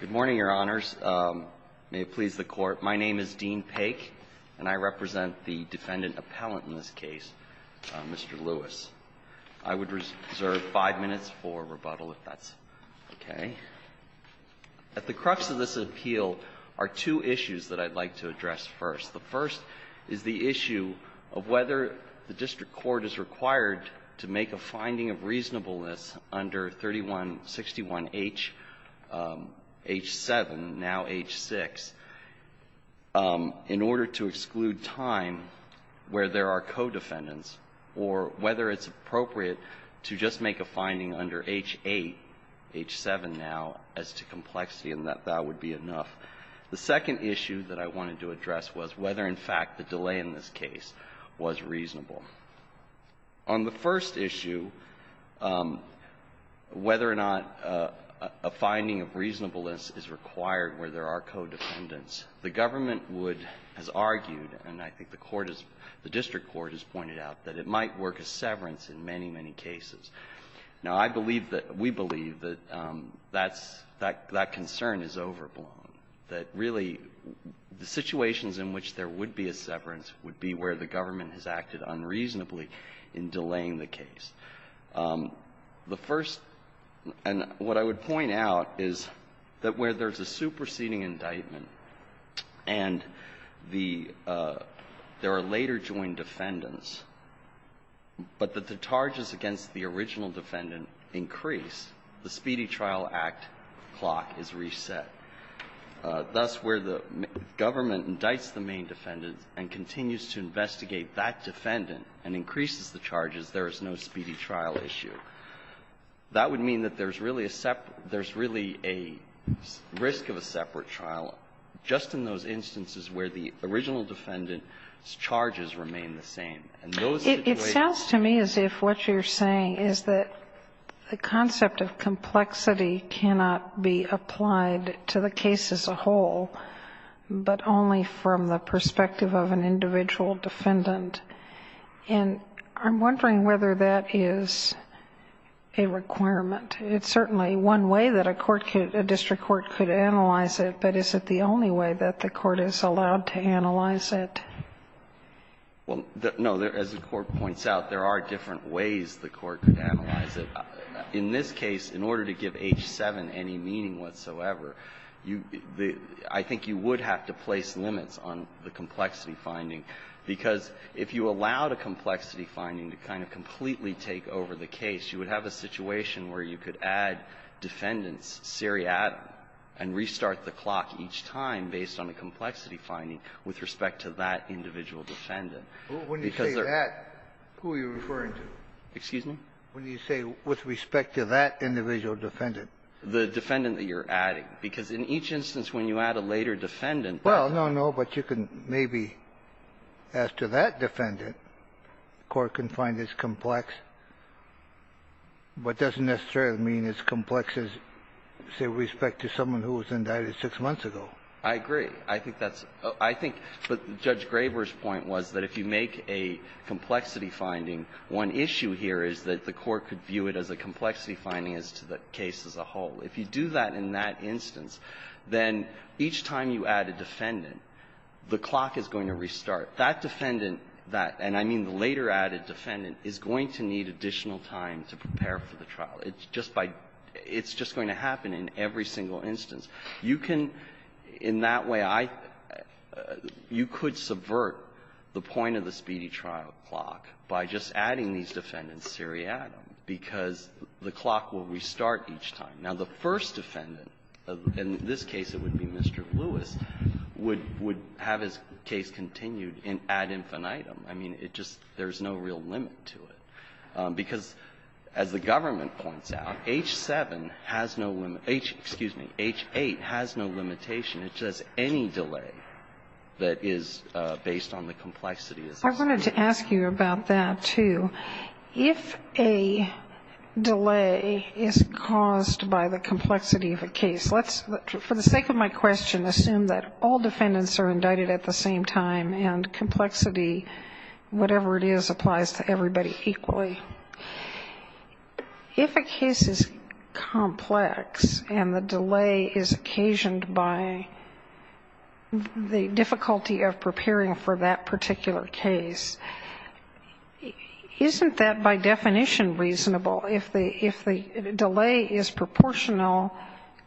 Good morning, Your Honors. May it please the Court. My name is Dean Paik, and I represent the Defendant Appellant in this case, Mr. Lewis. I would reserve five minutes for rebuttal if that's okay. At the crux of this appeal are two issues that I'd like to address first. The first is the issue of whether the district court is required to make a finding of reasonableness under 3161H, H-7, now H-6, in order to exclude time where there are co-defendants or whether it's appropriate to just make a finding under H-8, H-7 now, as to complexity and that that would be enough. The second issue that I wanted to address was whether, in fact, the delay in this case was reasonable. On the first issue, whether or not a finding of reasonableness is required where there are co-defendants, the government would, has argued, and I think the court has the district court has pointed out, that it might work as severance in many, many cases. Now, I believe that we believe that that's, that concern is overblown, that really the situations in which there would be a severance would be where the government has acted unreasonably in delaying the case. The first, and what I would point out is that where there's a superseding indictment and the, there are later joint defendants, but that the charges against the original defendant increase, the Speedy Trial Act clock is reset. Thus, where the government indicts the main defendant and continues to investigate that defendant and increases the charges, there is no Speedy Trial issue. That would mean that there's really a separate, there's really a risk of a separate trial just in those instances where the original defendant's charges remain the same. And those situations are not the same. Sotomayor, it sounds to me as if what you're saying is that the concept of complexity cannot be applied to the case as a whole, but only from the perspective of an individual defendant. And I'm wondering whether that is a requirement. It's certainly one way that a court could, a district court could analyze it, but is it the only way that the court is allowed to analyze it? Well, no. As the Court points out, there are different ways the Court could analyze it. In this case, if you reset any meaning whatsoever, you the – I think you would have to place limits on the complexity finding, because if you allowed a complexity finding to kind of completely take over the case, you would have a situation where you could add defendants, seriatim, and restart the clock each time based on a complexity finding with respect to that individual defendant. Because there are – When you say that, who are you referring to? Excuse me? When you say with respect to that individual defendant. The defendant that you're adding. Because in each instance, when you add a later defendant, that's – Well, no, no. But you can maybe, as to that defendant, the Court can find as complex, but doesn't necessarily mean as complex as, say, with respect to someone who was indicted six months ago. I agree. I think that's – I think – but Judge Graber's point was that if you make a complexity finding, one issue here is that the Court could view it as a complexity finding as to the case as a whole. If you do that in that instance, then each time you add a defendant, the clock is going to restart. That defendant that – and I mean the later added defendant – is going to need additional time to prepare for the trial. It's just by – it's just going to happen in every single instance. You can – in that way, I – you could subvert the point of the speedy trial clock by just adding these defendants seriatim, because the clock will restart each time. Now, the first defendant, in this case it would be Mr. Lewis, would – would have his case continued ad infinitum. I mean, it just – there's no real limit to it. Because, as the government points out, H-7 has no – excuse me, H-8 has no limitation. It's just any delay that is based on the complexity is a limitation. I wanted to ask you about that, too. If a delay is caused by the complexity of a case, let's – for the sake of my question, assume that all defendants are indicted at the same time, and complexity, whatever it is, applies to everybody equally. If a case is complex and the delay is occasioned by the difficulty of preparing for that particular case, isn't that, by definition, reasonable? If the – if the delay is proportional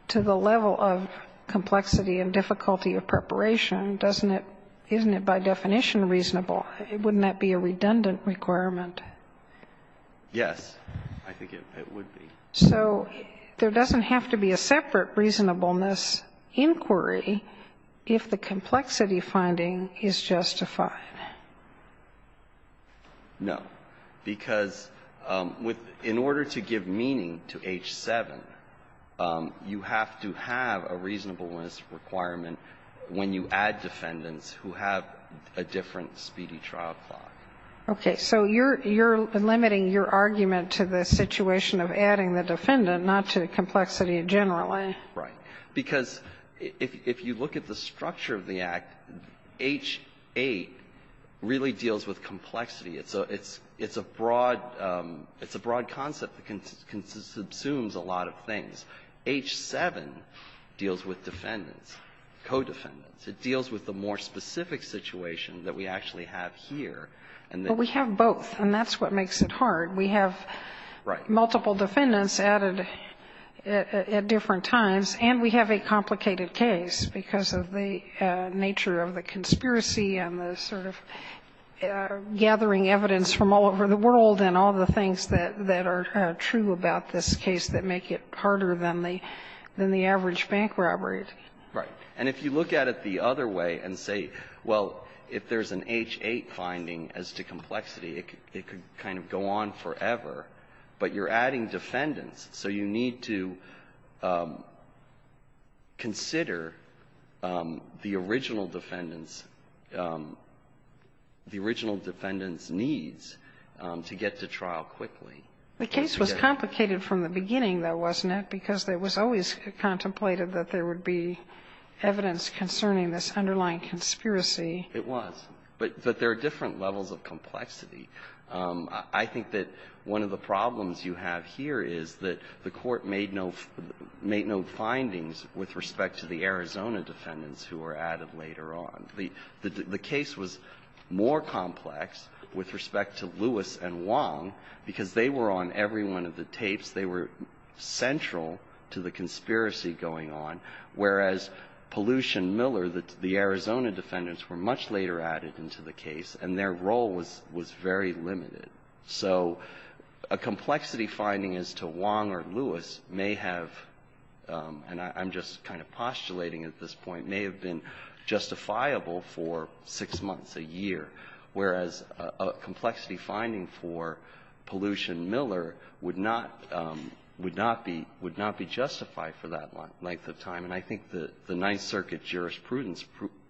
to the level of complexity and difficulty of preparation, doesn't it – isn't it, by definition, reasonable? Wouldn't that be a redundant requirement? Yes, I think it would be. So there doesn't have to be a separate reasonableness inquiry if the complexity finding is justified? No. Because with – in order to give meaning to H-7, you have to have a reasonableness requirement when you add defendants who have a different speedy trial clock. Okay. So you're – you're limiting your argument to the situation of adding the defendant, not to the complexity in general. Right. Because if you look at the structure of the Act, H-8 really deals with complexity. It's a – it's a broad – it's a broad concept that consumes a lot of things. H-7 deals with defendants, co-defendants. It deals with the more specific situation that we actually have here. And the – But we have both, and that's what makes it hard. We have multiple defendants added at different times, and we have a complicated case because of the nature of the conspiracy and the sort of gathering evidence from all over the world and all the things that are true about this case that make it harder than the – than the average bank robbery. Right. And if you look at it the other way and say, well, if there's an H-8 finding as to complexity, it could kind of go on forever, but you're adding defendants, so you need to consider the original defendant's – the original defendant's needs to get to trial quickly. The case was complicated from the beginning, though, wasn't it, because there was always contemplated that there would be evidence concerning this underlying conspiracy. It was. But there are different levels of complexity. I think that one of the problems you have here is that the Court made no – made no findings with respect to the Arizona defendants who were added later on. The case was more complex with respect to Lewis and Wong because they were on every one of the tapes. They were central to the conspiracy going on, whereas Pollution Miller, the Arizona defendants, were much later added into the case, and their role was very limited. So a complexity finding as to Wong or Lewis may have – and I'm just kind of postulating at this point – may have been justifiable for six months, a year, whereas a complexity finding for Pollution Miller would not – would not be – would not be justified for that length of time. And I think the Ninth Circuit jurisprudence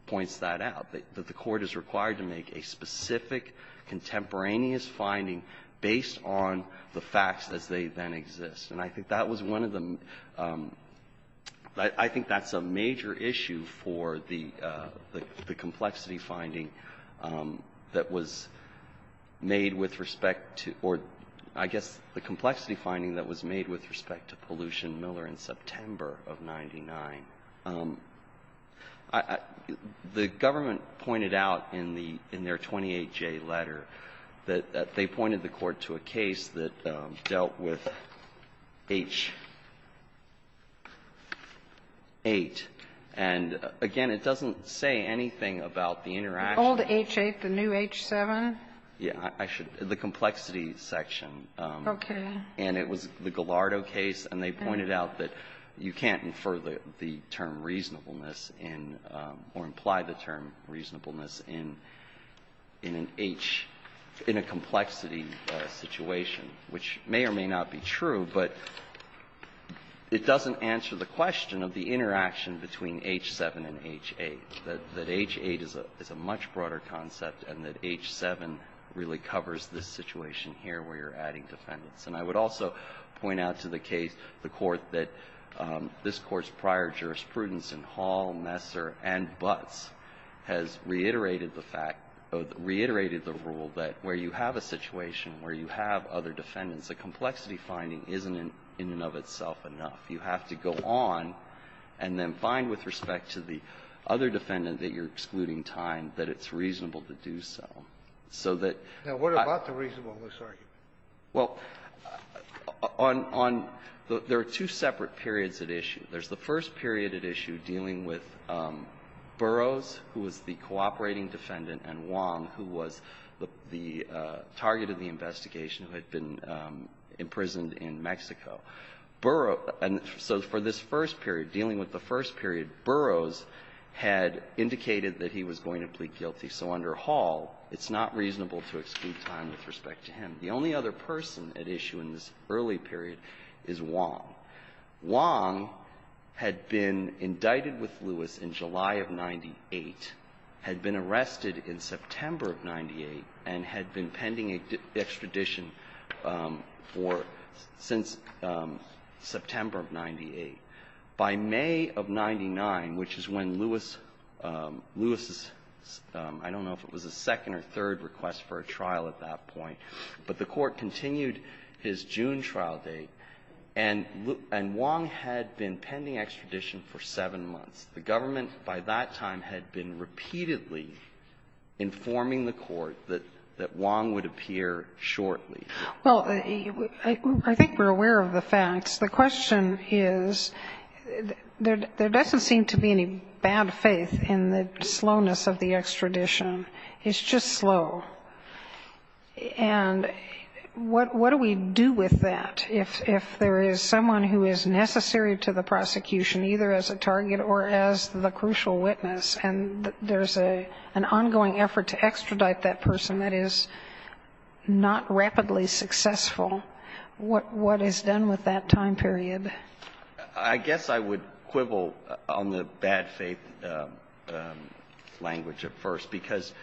points that out, that the Court is required to make a specific contemporaneous finding based on the facts as they then exist. And I think that was one of the – I think that's a major issue for the – the complexity finding that was made with respect to – or I guess the complexity finding that was made with respect to Pollution Miller in September of 99. The government pointed out in the – in their 28J letter that they pointed the Court to a case that dealt with H-8, and, again, it doesn't say anything about the interaction with the new H-7. And it was the Gallardo case, and they pointed out that you can't infer the term reasonableness in – or imply the term reasonableness in an H – in a complexity section. And I think that's a major issue for the Court in that it doesn't answer the question of the interaction between H-7 and H-8, that H-8 is a much broader concept and that H-7 really covers this situation here where you're adding defendants. And I would also point out to the case the Court that this Court's prior jurisprudence in Hall, Nessar, and Butts has reiterated the fact – reiterated the rule that where you have a situation where you have other defendants, a complexity finding isn't in and of itself enough. You have to go on and then find with respect to the other defendant that you're excluding time that it's reasonable to do so, so that I – Now, what about the reasonableness argument? Well, on – on – there are two separate periods at issue. There's the first period at issue dealing with Burroughs, who was the cooperating defendant, and Wong, who was the – the target of the investigation who had been imprisoned in Mexico. Burroughs – and so for this first period, dealing with the first period, Burroughs had indicated that he was going to plead guilty. So under Hall, it's not reasonable to exclude time with respect to him. The only other person at issue in this early period is Wong. Wong had been indicted with Lewis in July of 98, had been arrested in September of 98, and had been pending extradition for – since September of 98. By May of 99, which is when Lewis – Lewis's – I don't know if it was a second or third request for a trial at that point, but the Court continued his June trial date, and – and Wong had been pending extradition for seven months. The government by that time had been repeatedly informing the Court that – that Wong would appear shortly. Well, I think we're aware of the facts. The question is, there doesn't seem to be any bad faith in the slowness of the extradition. It's just slow. And what – what do we do with that if – if there is someone who is necessary to the prosecution, either as a target or as the crucial witness, and there's a – an ongoing effort to extradite that person that is not rapidly successful, what – what is done with that time period? I guess I would quibble on the bad faith language at first, because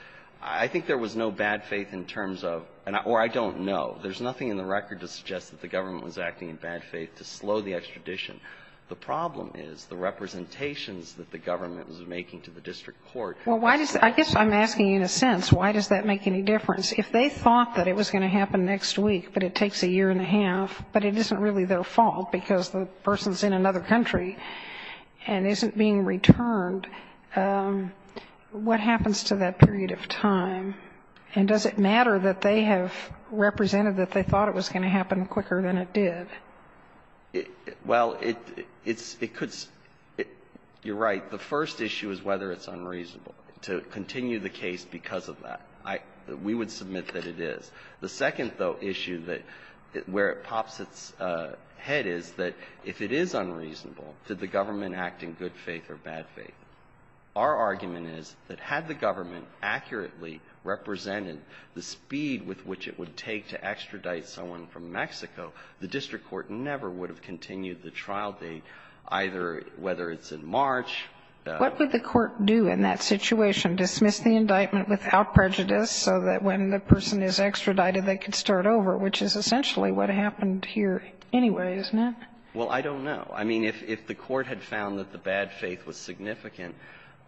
I think there was no bad faith in terms of – or I don't know. There's nothing in the record to suggest that the government was acting in bad faith to slow the extradition. The problem is the representations that the government was making to the district court. Well, why does – I guess I'm asking you in a sense, why does that make any difference? If they thought that it was going to happen next week, but it takes a year and a half, but it isn't really their fault because the person's in another country and isn't being returned, what happens to that period of time? And does it matter that they have represented that they thought it was going to happen quicker than it did? Well, it – it's – it could – you're right. The first issue is whether it's unreasonable to continue the case because of that. I – we would submit that it is. The second, though, issue that – where it pops its head is that if it is unreasonable, did the government act in good faith or bad faith? Our argument is that had the government accurately represented the speed with which it would take to extradite someone from Mexico, the district court never would have continued the trial date, either whether it's in March. What would the court do in that situation, dismiss the indictment without prejudice so that when the person is extradited, they could start over, which is essentially what happened here anyway, isn't it? Well, I don't know. I mean, if the court had found that the bad faith was significant,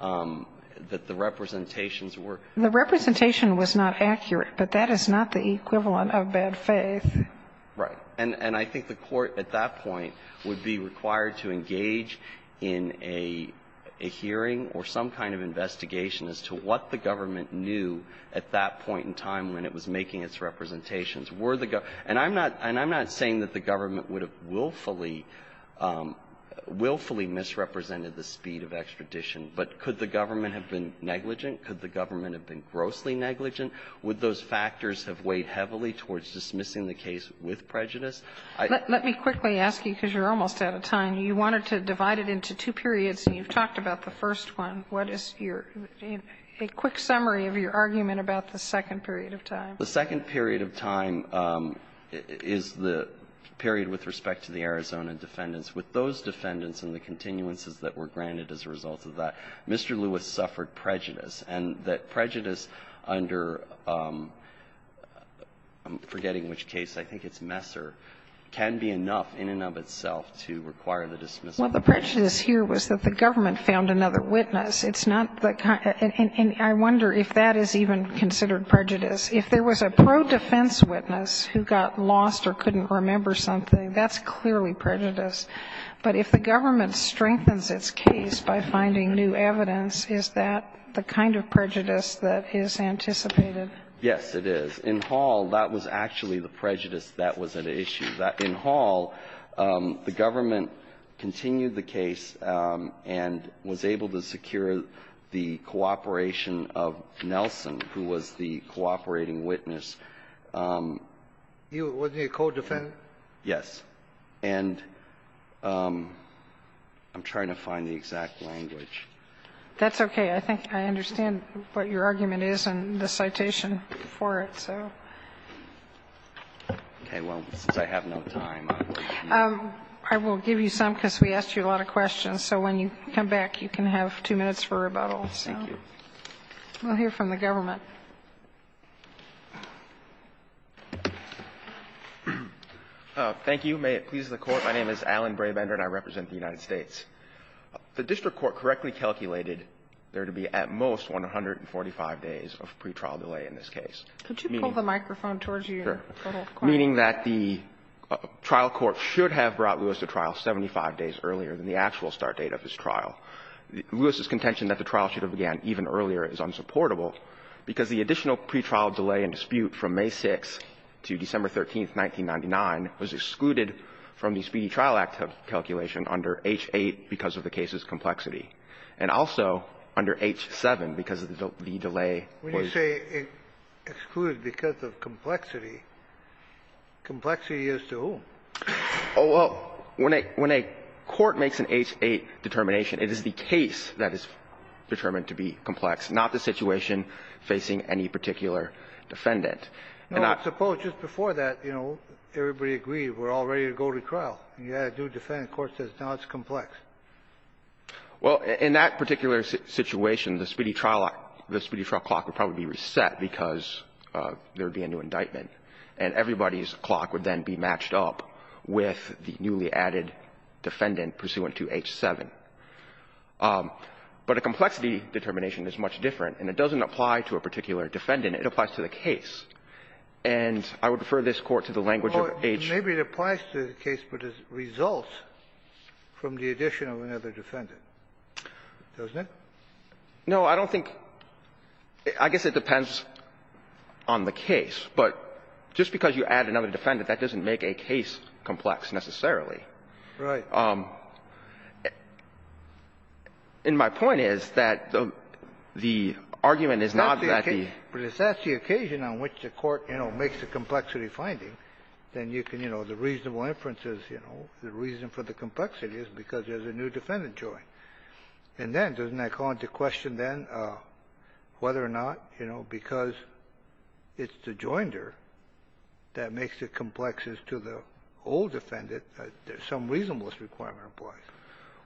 that the representations were – The representation was not accurate, but that is not the equivalent of bad faith. Right. And I think the court at that point would be required to engage in a hearing or some kind of investigation as to what the government knew at that point in time when it was making its representations. Were the – and I'm not – and I'm not saying that the government would have willfully misrepresented the speed of extradition, but could the government have been negligent? Could the government have been grossly negligent? Would those factors have weighed heavily towards dismissing the case with prejudice? Let me quickly ask you, because you're almost out of time. You wanted to divide it into two periods, and you've talked about the first one. What is your – a quick summary of your argument about the second period of time? The second period of time is the period with respect to the Arizona defendants. With those defendants and the continuances that were granted as a result of that, Mr. Lewis suffered prejudice, and that prejudice under – I'm forgetting which case. I think it's Messer – can be enough in and of itself to require the dismissal. Well, the prejudice here was that the government found another witness. It's not the – and I wonder if that is even considered prejudice. If there was a pro-defense witness who got lost or couldn't remember something, that's clearly prejudice. But if the government strengthens its case by finding new evidence, is that the kind of prejudice that is anticipated? Yes, it is. In Hall, that was actually the prejudice that was at issue. In Hall, the government continued the case and was able to secure the cooperation of Nelson, who was the cooperating witness. You were the co-defendant? Yes. And I'm trying to find the exact language. That's okay. I think I understand what your argument is in the citation for it, so. Okay. Well, since I have no time, I will give you some, because we asked you a lot of questions. So when you come back, you can have two minutes for rebuttal. Thank you. We'll hear from the government. Thank you. May it please the Court. My name is Alan Brabender, and I represent the United States. The district court correctly calculated there to be at most 145 days of pretrial delay in this case. Could you pull the microphone towards you? Sure. Meaning that the trial court should have brought Lewis to trial 75 days earlier than the actual start date of his trial. Lewis's contention that the trial should have began even earlier is unsupportable, because the additional pretrial delay and dispute from May 6th to December 13th, 1999, was excluded from the Speedy Trial Act calculation under H-8 because of the case's complexity, and also under H-7 because of the delay. When you say excluded because of complexity, complexity is to whom? Oh, well, when a court makes an H-8 determination, it is the case that is determined to be complex, not the situation facing any particular defendant. No, but suppose just before that, you know, everybody agreed we're all ready to go to trial, and you had a new defendant, the court says, no, it's complex. Well, in that particular situation, the Speedy Trial Act, the Speedy Trial Clock would probably be reset because there would be a new indictment, and everybody's case would be matched up with the newly added defendant pursuant to H-7. But a complexity determination is much different, and it doesn't apply to a particular defendant. It applies to the case. And I would refer this Court to the language of H. Maybe it applies to the case, but it results from the addition of another defendant. Doesn't it? No, I don't think – I guess it depends on the case. But just because you add another defendant, that doesn't make a case complex, necessarily. Right. And my point is that the argument is not that the – But if that's the occasion on which the court, you know, makes a complexity finding, then you can, you know, the reasonable inference is, you know, the reason for the complexity is because there's a new defendant joined. And then, doesn't that call into question then whether or not, you know, because it's the joinder that makes it complex as to the old defendant, there's some reasonableness requirement applies.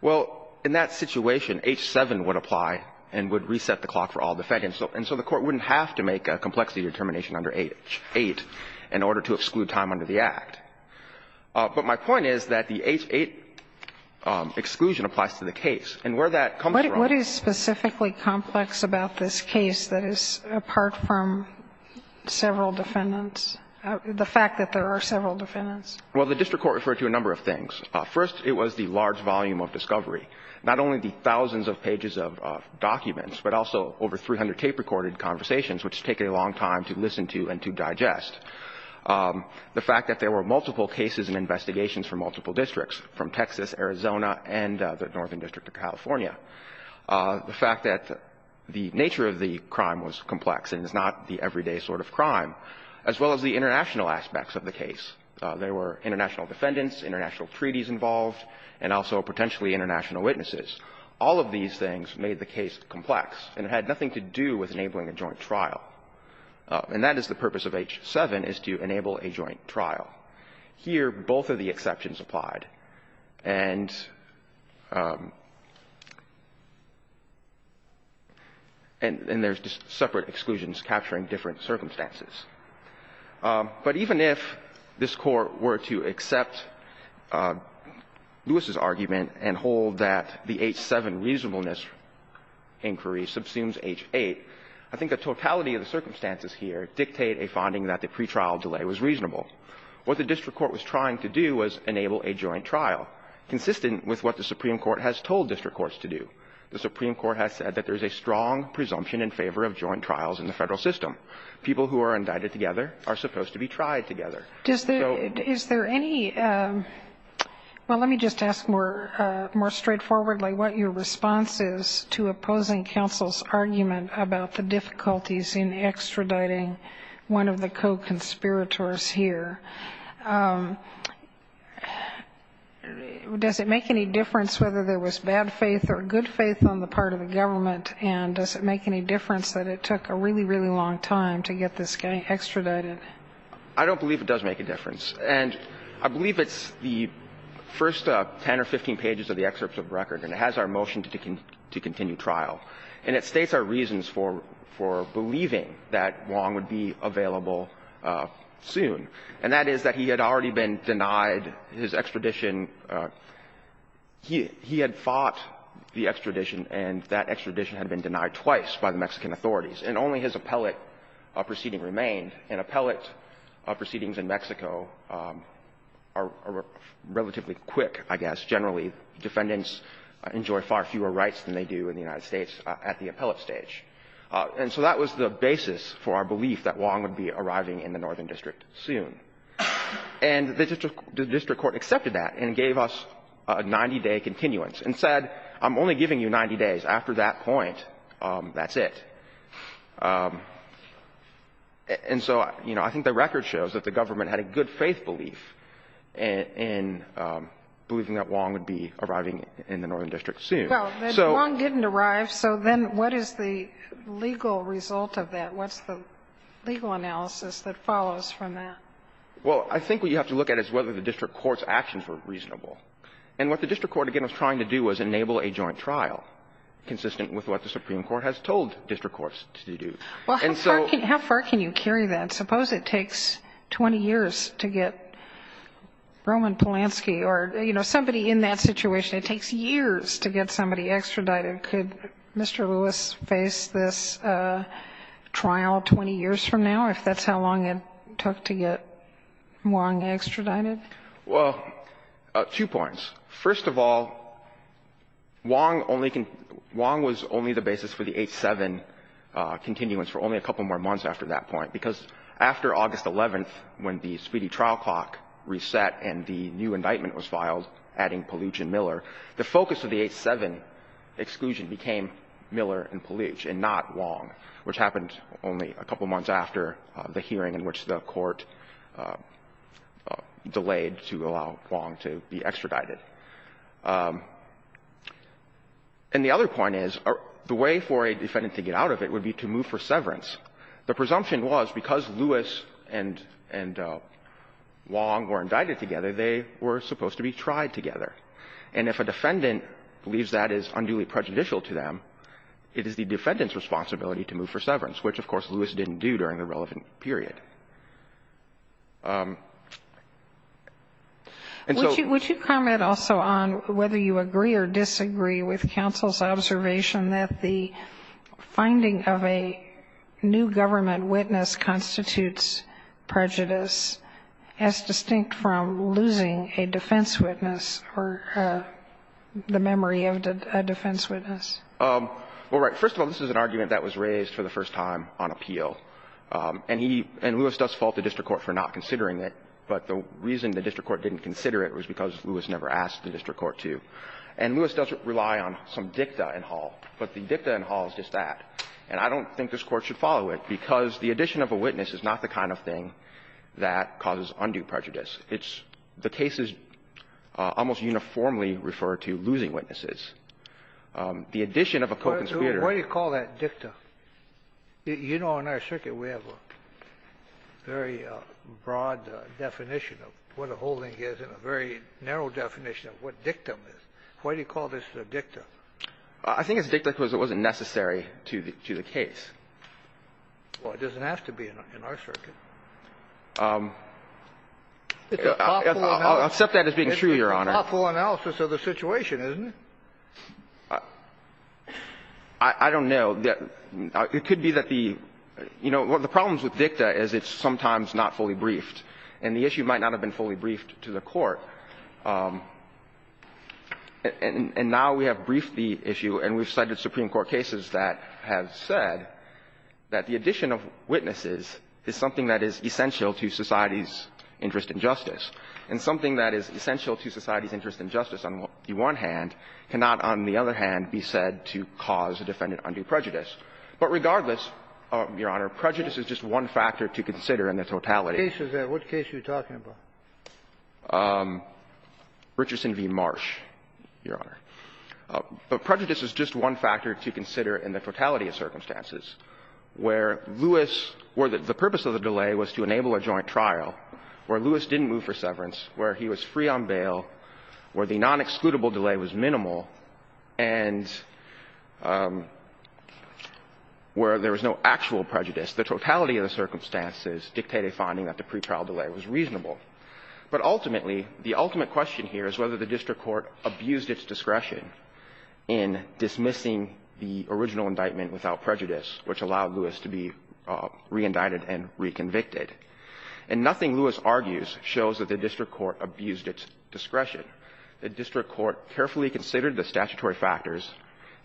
Well, in that situation, H-7 would apply and would reset the clock for all defendants. And so the Court wouldn't have to make a complexity determination under H-8 in order to exclude time under the Act. But my point is that the H-8 exclusion applies to the case. And where that comes from – Is there anything specifically complex about this case that is apart from several defendants, the fact that there are several defendants? Well, the district court referred to a number of things. First, it was the large volume of discovery, not only the thousands of pages of documents, but also over 300 tape-recorded conversations, which take a long time to listen to and to digest. The fact that there were multiple cases and investigations from multiple districts, from Texas, Arizona, and the Northern District of California. The fact that the nature of the crime was complex and is not the everyday sort of crime, as well as the international aspects of the case. There were international defendants, international treaties involved, and also potentially international witnesses. All of these things made the case complex, and it had nothing to do with enabling a joint trial. And that is the purpose of H-7, is to enable a joint trial. Here, both of the exceptions applied, and – and there's just separate exclusions capturing different circumstances. But even if this Court were to accept Lewis's argument and hold that the H-7 reasonableness inquiry subsumes H-8, I think the totality of the circumstances here dictate a finding that the pretrial delay was reasonable. What the district court was trying to do was enable a joint trial, consistent with what the Supreme Court has told district courts to do. The Supreme Court has said that there's a strong presumption in favor of joint trials in the federal system. People who are indicted together are supposed to be tried together. So – Is there any – well, let me just ask more – more straightforwardly what your response is to opposing counsel's argument about the difficulties in extraditing one of the federal conspirators here. Does it make any difference whether there was bad faith or good faith on the part of the government, and does it make any difference that it took a really, really long time to get this guy extradited? I don't believe it does make a difference. And I believe it's the first 10 or 15 pages of the excerpt of the record, and it has our motion to continue trial. And it states our reasons for believing that Wong would be available soon, and that is that he had already been denied his extradition. He had fought the extradition, and that extradition had been denied twice by the Mexican authorities, and only his appellate proceeding remained. And appellate proceedings in Mexico are relatively quick, I guess. Generally, defendants enjoy far fewer rights than they do in the United States at the appellate stage. And so that was the basis for our belief that Wong would be arriving in the Northern District soon. And the district court accepted that and gave us a 90-day continuance and said, I'm only giving you 90 days. After that point, that's it. And so, you know, I think the record shows that the government had a good faith in believing that Wong would be arriving in the Northern District soon. So the law didn't arrive, so then what is the legal result of that? What's the legal analysis that follows from that? Well, I think what you have to look at is whether the district court's actions were reasonable. And what the district court, again, was trying to do was enable a joint trial, consistent with what the Supreme Court has told district courts to do. And so How far can you carry that? I suppose it takes 20 years to get Roman Polanski or, you know, somebody in that situation, it takes years to get somebody extradited. Could Mr. Lewis face this trial 20 years from now, if that's how long it took to get Wong extradited? Well, two points. First of all, Wong only can – Wong was only the basis for the 8-7 continuance for only a couple more months after that point, because after August 11th, when the speedy trial clock reset and the new indictment was filed, adding Palooch and Miller, the focus of the 8-7 exclusion became Miller and Palooch and not Wong, which happened only a couple months after the hearing in which the Court delayed to allow Wong to be extradited. And the other point is, the way for a defendant to get out of it would be to move for severance. The presumption was because Lewis and – and Wong were indicted together, they were supposed to be tried together. And if a defendant believes that is unduly prejudicial to them, it is the defendant's responsibility to move for severance, which, of course, Lewis didn't do during the relevant period. And so – Would you – would you comment also on whether you agree or disagree with counsel's observation that the finding of a new government witness constitutes prejudice as distinct from losing a defense witness or the memory of a defense witness? Well, right. First of all, this is an argument that was raised for the first time on appeal. And Lewis does fault the district court for not considering it, but the reason the district court didn't consider it was because Lewis never asked the district court to. And Lewis does rely on some dicta in Hall, but the dicta in Hall is just that. And I don't think this Court should follow it, because the addition of a witness is not the kind of thing that causes undue prejudice. It's – the case is almost uniformly referred to losing witnesses. The addition of a co-conspirator – Why do you call that dicta? You know, in our circuit, we have a very broad definition of what a holding is and a very narrow definition of what dictum is. Why do you call this a dicta? I think it's a dicta because it wasn't necessary to the case. Well, it doesn't have to be in our circuit. It's an awful – I'll accept that as being true, Your Honor. It's an awful analysis of the situation, isn't it? I don't know. It could be that the – you know, the problem with dicta is it's sometimes not fully briefed. And the issue might not have been fully briefed to the Court. And now we have briefed the issue, and we've cited Supreme Court cases that have said that the addition of witnesses is something that is essential to society's interest in justice. And something that is essential to society's interest in justice, on the one hand, cannot, on the other hand, be said to cause a defendant undue prejudice. But regardless, Your Honor, prejudice is just one factor to consider in the totality of circumstances. What case is that? What case are you talking about? Richardson v. Marsh, Your Honor. But prejudice is just one factor to consider in the totality of circumstances where Lewis – where the purpose of the delay was to enable a joint trial, where Lewis didn't move for severance, where he was free on bail, where the non-excludable delay was minimal, and where there was no actual prejudice. The totality of the circumstances dictate a finding that the pretrial delay was reasonable. But ultimately, the ultimate question here is whether the district court abused its discretion in dismissing the original indictment without prejudice, which allowed Lewis to be reindicted and reconvicted. And nothing Lewis argues shows that the district court abused its discretion. The district court carefully considered the statutory factors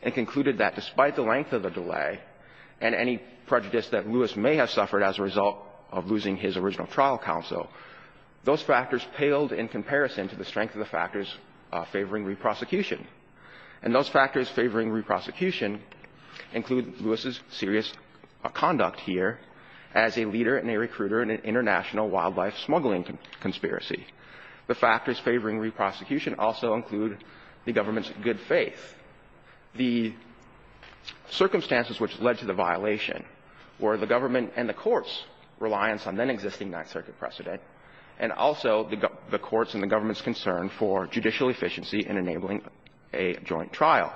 and concluded that despite the length of the delay and any prejudice that Lewis may have suffered as a result of losing his original trial counsel, those factors paled in comparison to the strength of the factors favoring reprosecution. And those factors favoring reprosecution include Lewis's serious conduct here as a leader and a recruiter in an international wildlife smuggling conspiracy. The factors favoring reprosecution also include the government's good faith. The circumstances which led to the violation were the government and the court's reliance on then-existing Ninth Circuit precedent and also the court's and the government's concern for judicial efficiency in enabling a joint trial.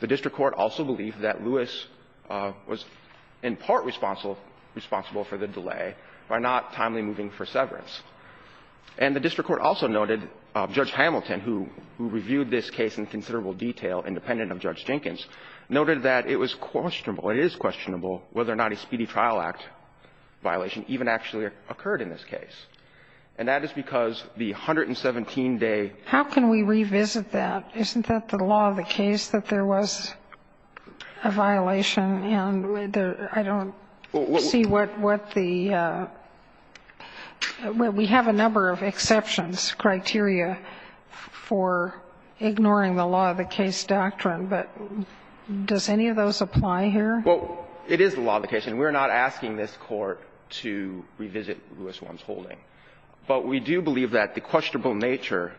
The district court also believed that Lewis was in part responsible for the delay by not timely moving for severance. And the district court also noted Judge Hamilton, who reviewed this case in considerable detail independent of Judge Jenkins, noted that it was questionable, it is questionable, whether or not a Speedy Trial Act violation even actually occurred in this case. And that is because the 117-day ---- How can we revisit that? Isn't that the law of the case, that there was a violation and I don't see what the Well, we have a number of exceptions, criteria for ignoring the law of the case doctrine, but does any of those apply here? Well, it is the law of the case, and we're not asking this Court to revisit Lewis Wong's holding. But we do believe that the questionable nature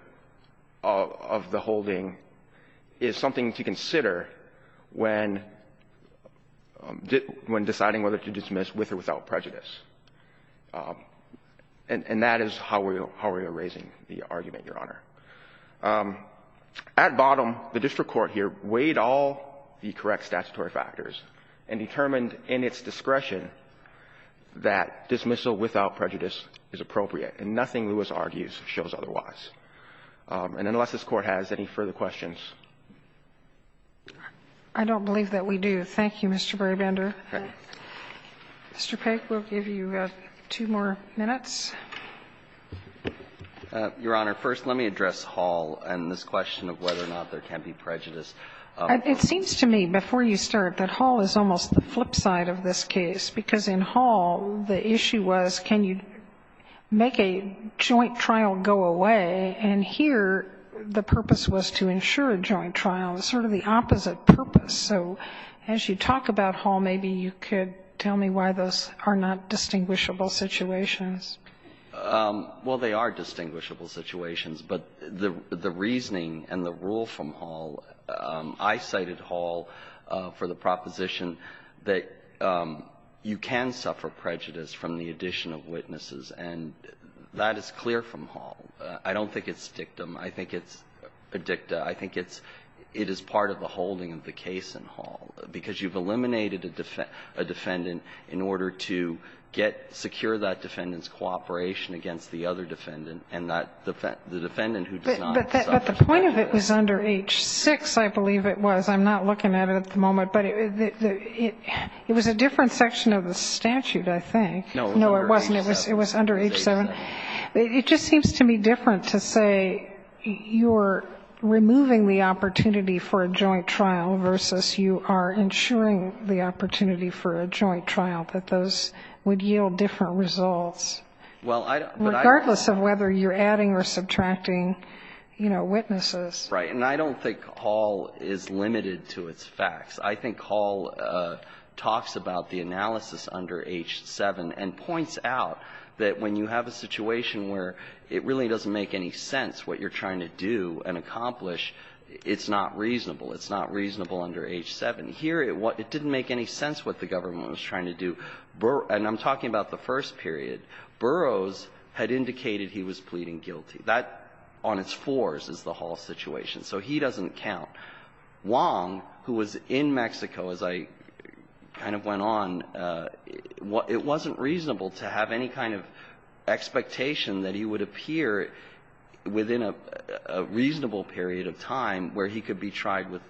of the holding is something to consider when deciding whether to dismiss with or without prejudice. And that is how we are raising the argument, Your Honor. At bottom, the district court here weighed all the correct statutory factors and determined in its discretion that dismissal without prejudice is appropriate, and nothing Lewis argues shows otherwise. And unless this Court has any further questions. I don't believe that we do. Thank you, Mr. Brabender. Mr. Peck, we'll give you two more minutes. Your Honor, first let me address Hall and this question of whether or not there can be prejudice. It seems to me, before you start, that Hall is almost the flip side of this case, because in Hall the issue was can you make a joint trial go away, and here the purpose was to ensure a joint trial, sort of the opposite purpose. So as you talk about Hall, maybe you could tell me why those are not distinguishable situations. Well, they are distinguishable situations, but the reasoning and the rule from Hall – I cited Hall for the proposition that you can suffer prejudice from the addition of witnesses, and that is clear from Hall. I don't think it's dictum. I think it's a dicta. I think it's – it is part of the holding of the case in Hall, because you've eliminated a defendant in order to get – secure that defendant's cooperation against the other defendant and that the defendant who does not suffer prejudice. But the point of it was under H-6, I believe it was. I'm not looking at it at the moment, but it was a different section of the statute, I think. No, it wasn't. It was under H-7. It just seems to me different to say you're removing the opportunity for a joint trial versus you are ensuring the opportunity for a joint trial, that those would yield different results. Well, I don't – but I – Regardless of whether you're adding or subtracting, you know, witnesses. Right. And I don't think Hall is limited to its facts. I think Hall talks about the analysis under H-7 and points out that when you have a situation where it really doesn't make any sense what you're trying to do and accomplish, it's not reasonable. It's not reasonable under H-7. Here, it didn't make any sense what the government was trying to do. And I'm talking about the first period. Burroughs had indicated he was pleading guilty. That, on its fours, is the Hall situation. So he doesn't count. Wong, who was in Mexico, as I kind of went on, it wasn't reasonable to have any kind of expectation that he would appear within a reasonable period of time where he could be tried with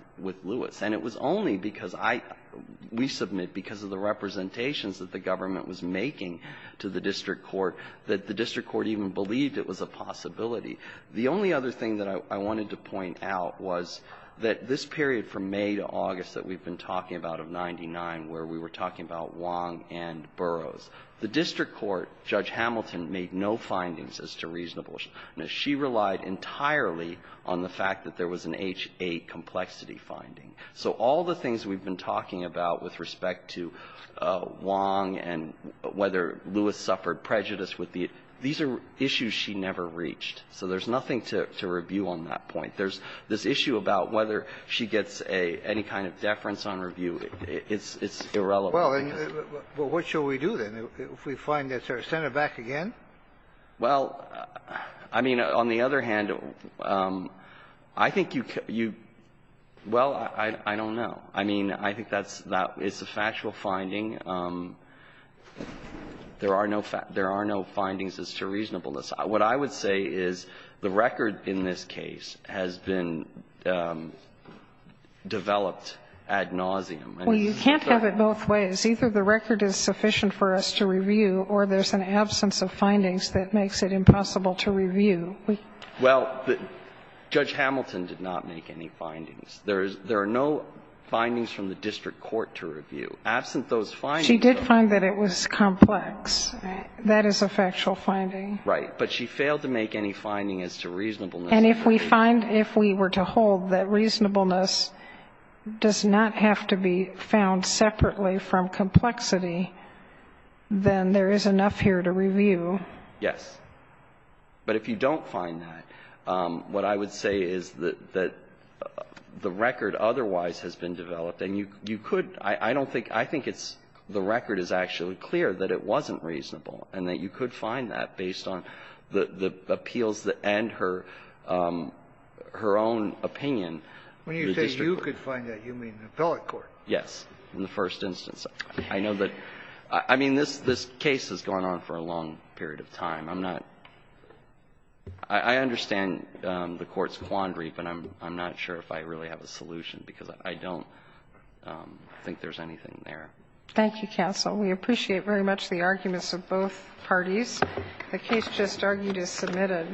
Lewis. And it was only because I – we submit because of the representations that the government was making to the district court that the district court even believed it was a possibility. The only other thing that I wanted to point out was that this period from May to August that we've been talking about of 99, where we were talking about Wong and Burroughs, the district court, Judge Hamilton, made no findings as to reasonableness. She relied entirely on the fact that there was an H-8 complexity finding. So all the things we've been talking about with respect to Wong and whether Lewis suffered prejudice with the – these are issues she never reached. So there's nothing to review on that point. There's this issue about whether she gets a – any kind of deference on review. It's irrelevant. Well, then, what shall we do, then, if we find that there's – send it back again? Well, I mean, on the other hand, I think you – well, I don't know. I mean, I think that's – it's a factual finding. There are no – there are no findings as to reasonableness. What I would say is the record in this case has been developed ad nauseam. Well, you can't have it both ways. Either the record is sufficient for us to review or there's an absence of findings that makes it impossible to review. Well, Judge Hamilton did not make any findings. There is – there are no findings from the district court to review. Absent those findings, though – She did find that it was complex. That is a factual finding. Right. But she failed to make any finding as to reasonableness. And if we find – if we were to hold that reasonableness does not have to be found separately from complexity, then there is enough here to review. Yes. But if you don't find that, what I would say is that the record otherwise has been developed, and you could – I don't think – I think it's – the record is actually clear that it wasn't reasonable and that you could find that based on the appeals that – and her own opinion. When you say you could find that, you mean the appellate court? Yes. In the first instance. I know that – I mean, this case has gone on for a long period of time. I'm not – I understand the Court's quandary, but I'm not sure if I really have a solution because I don't think there's anything there. Thank you, counsel. We appreciate very much the arguments of both parties. The case just argued is submitted. Thank you.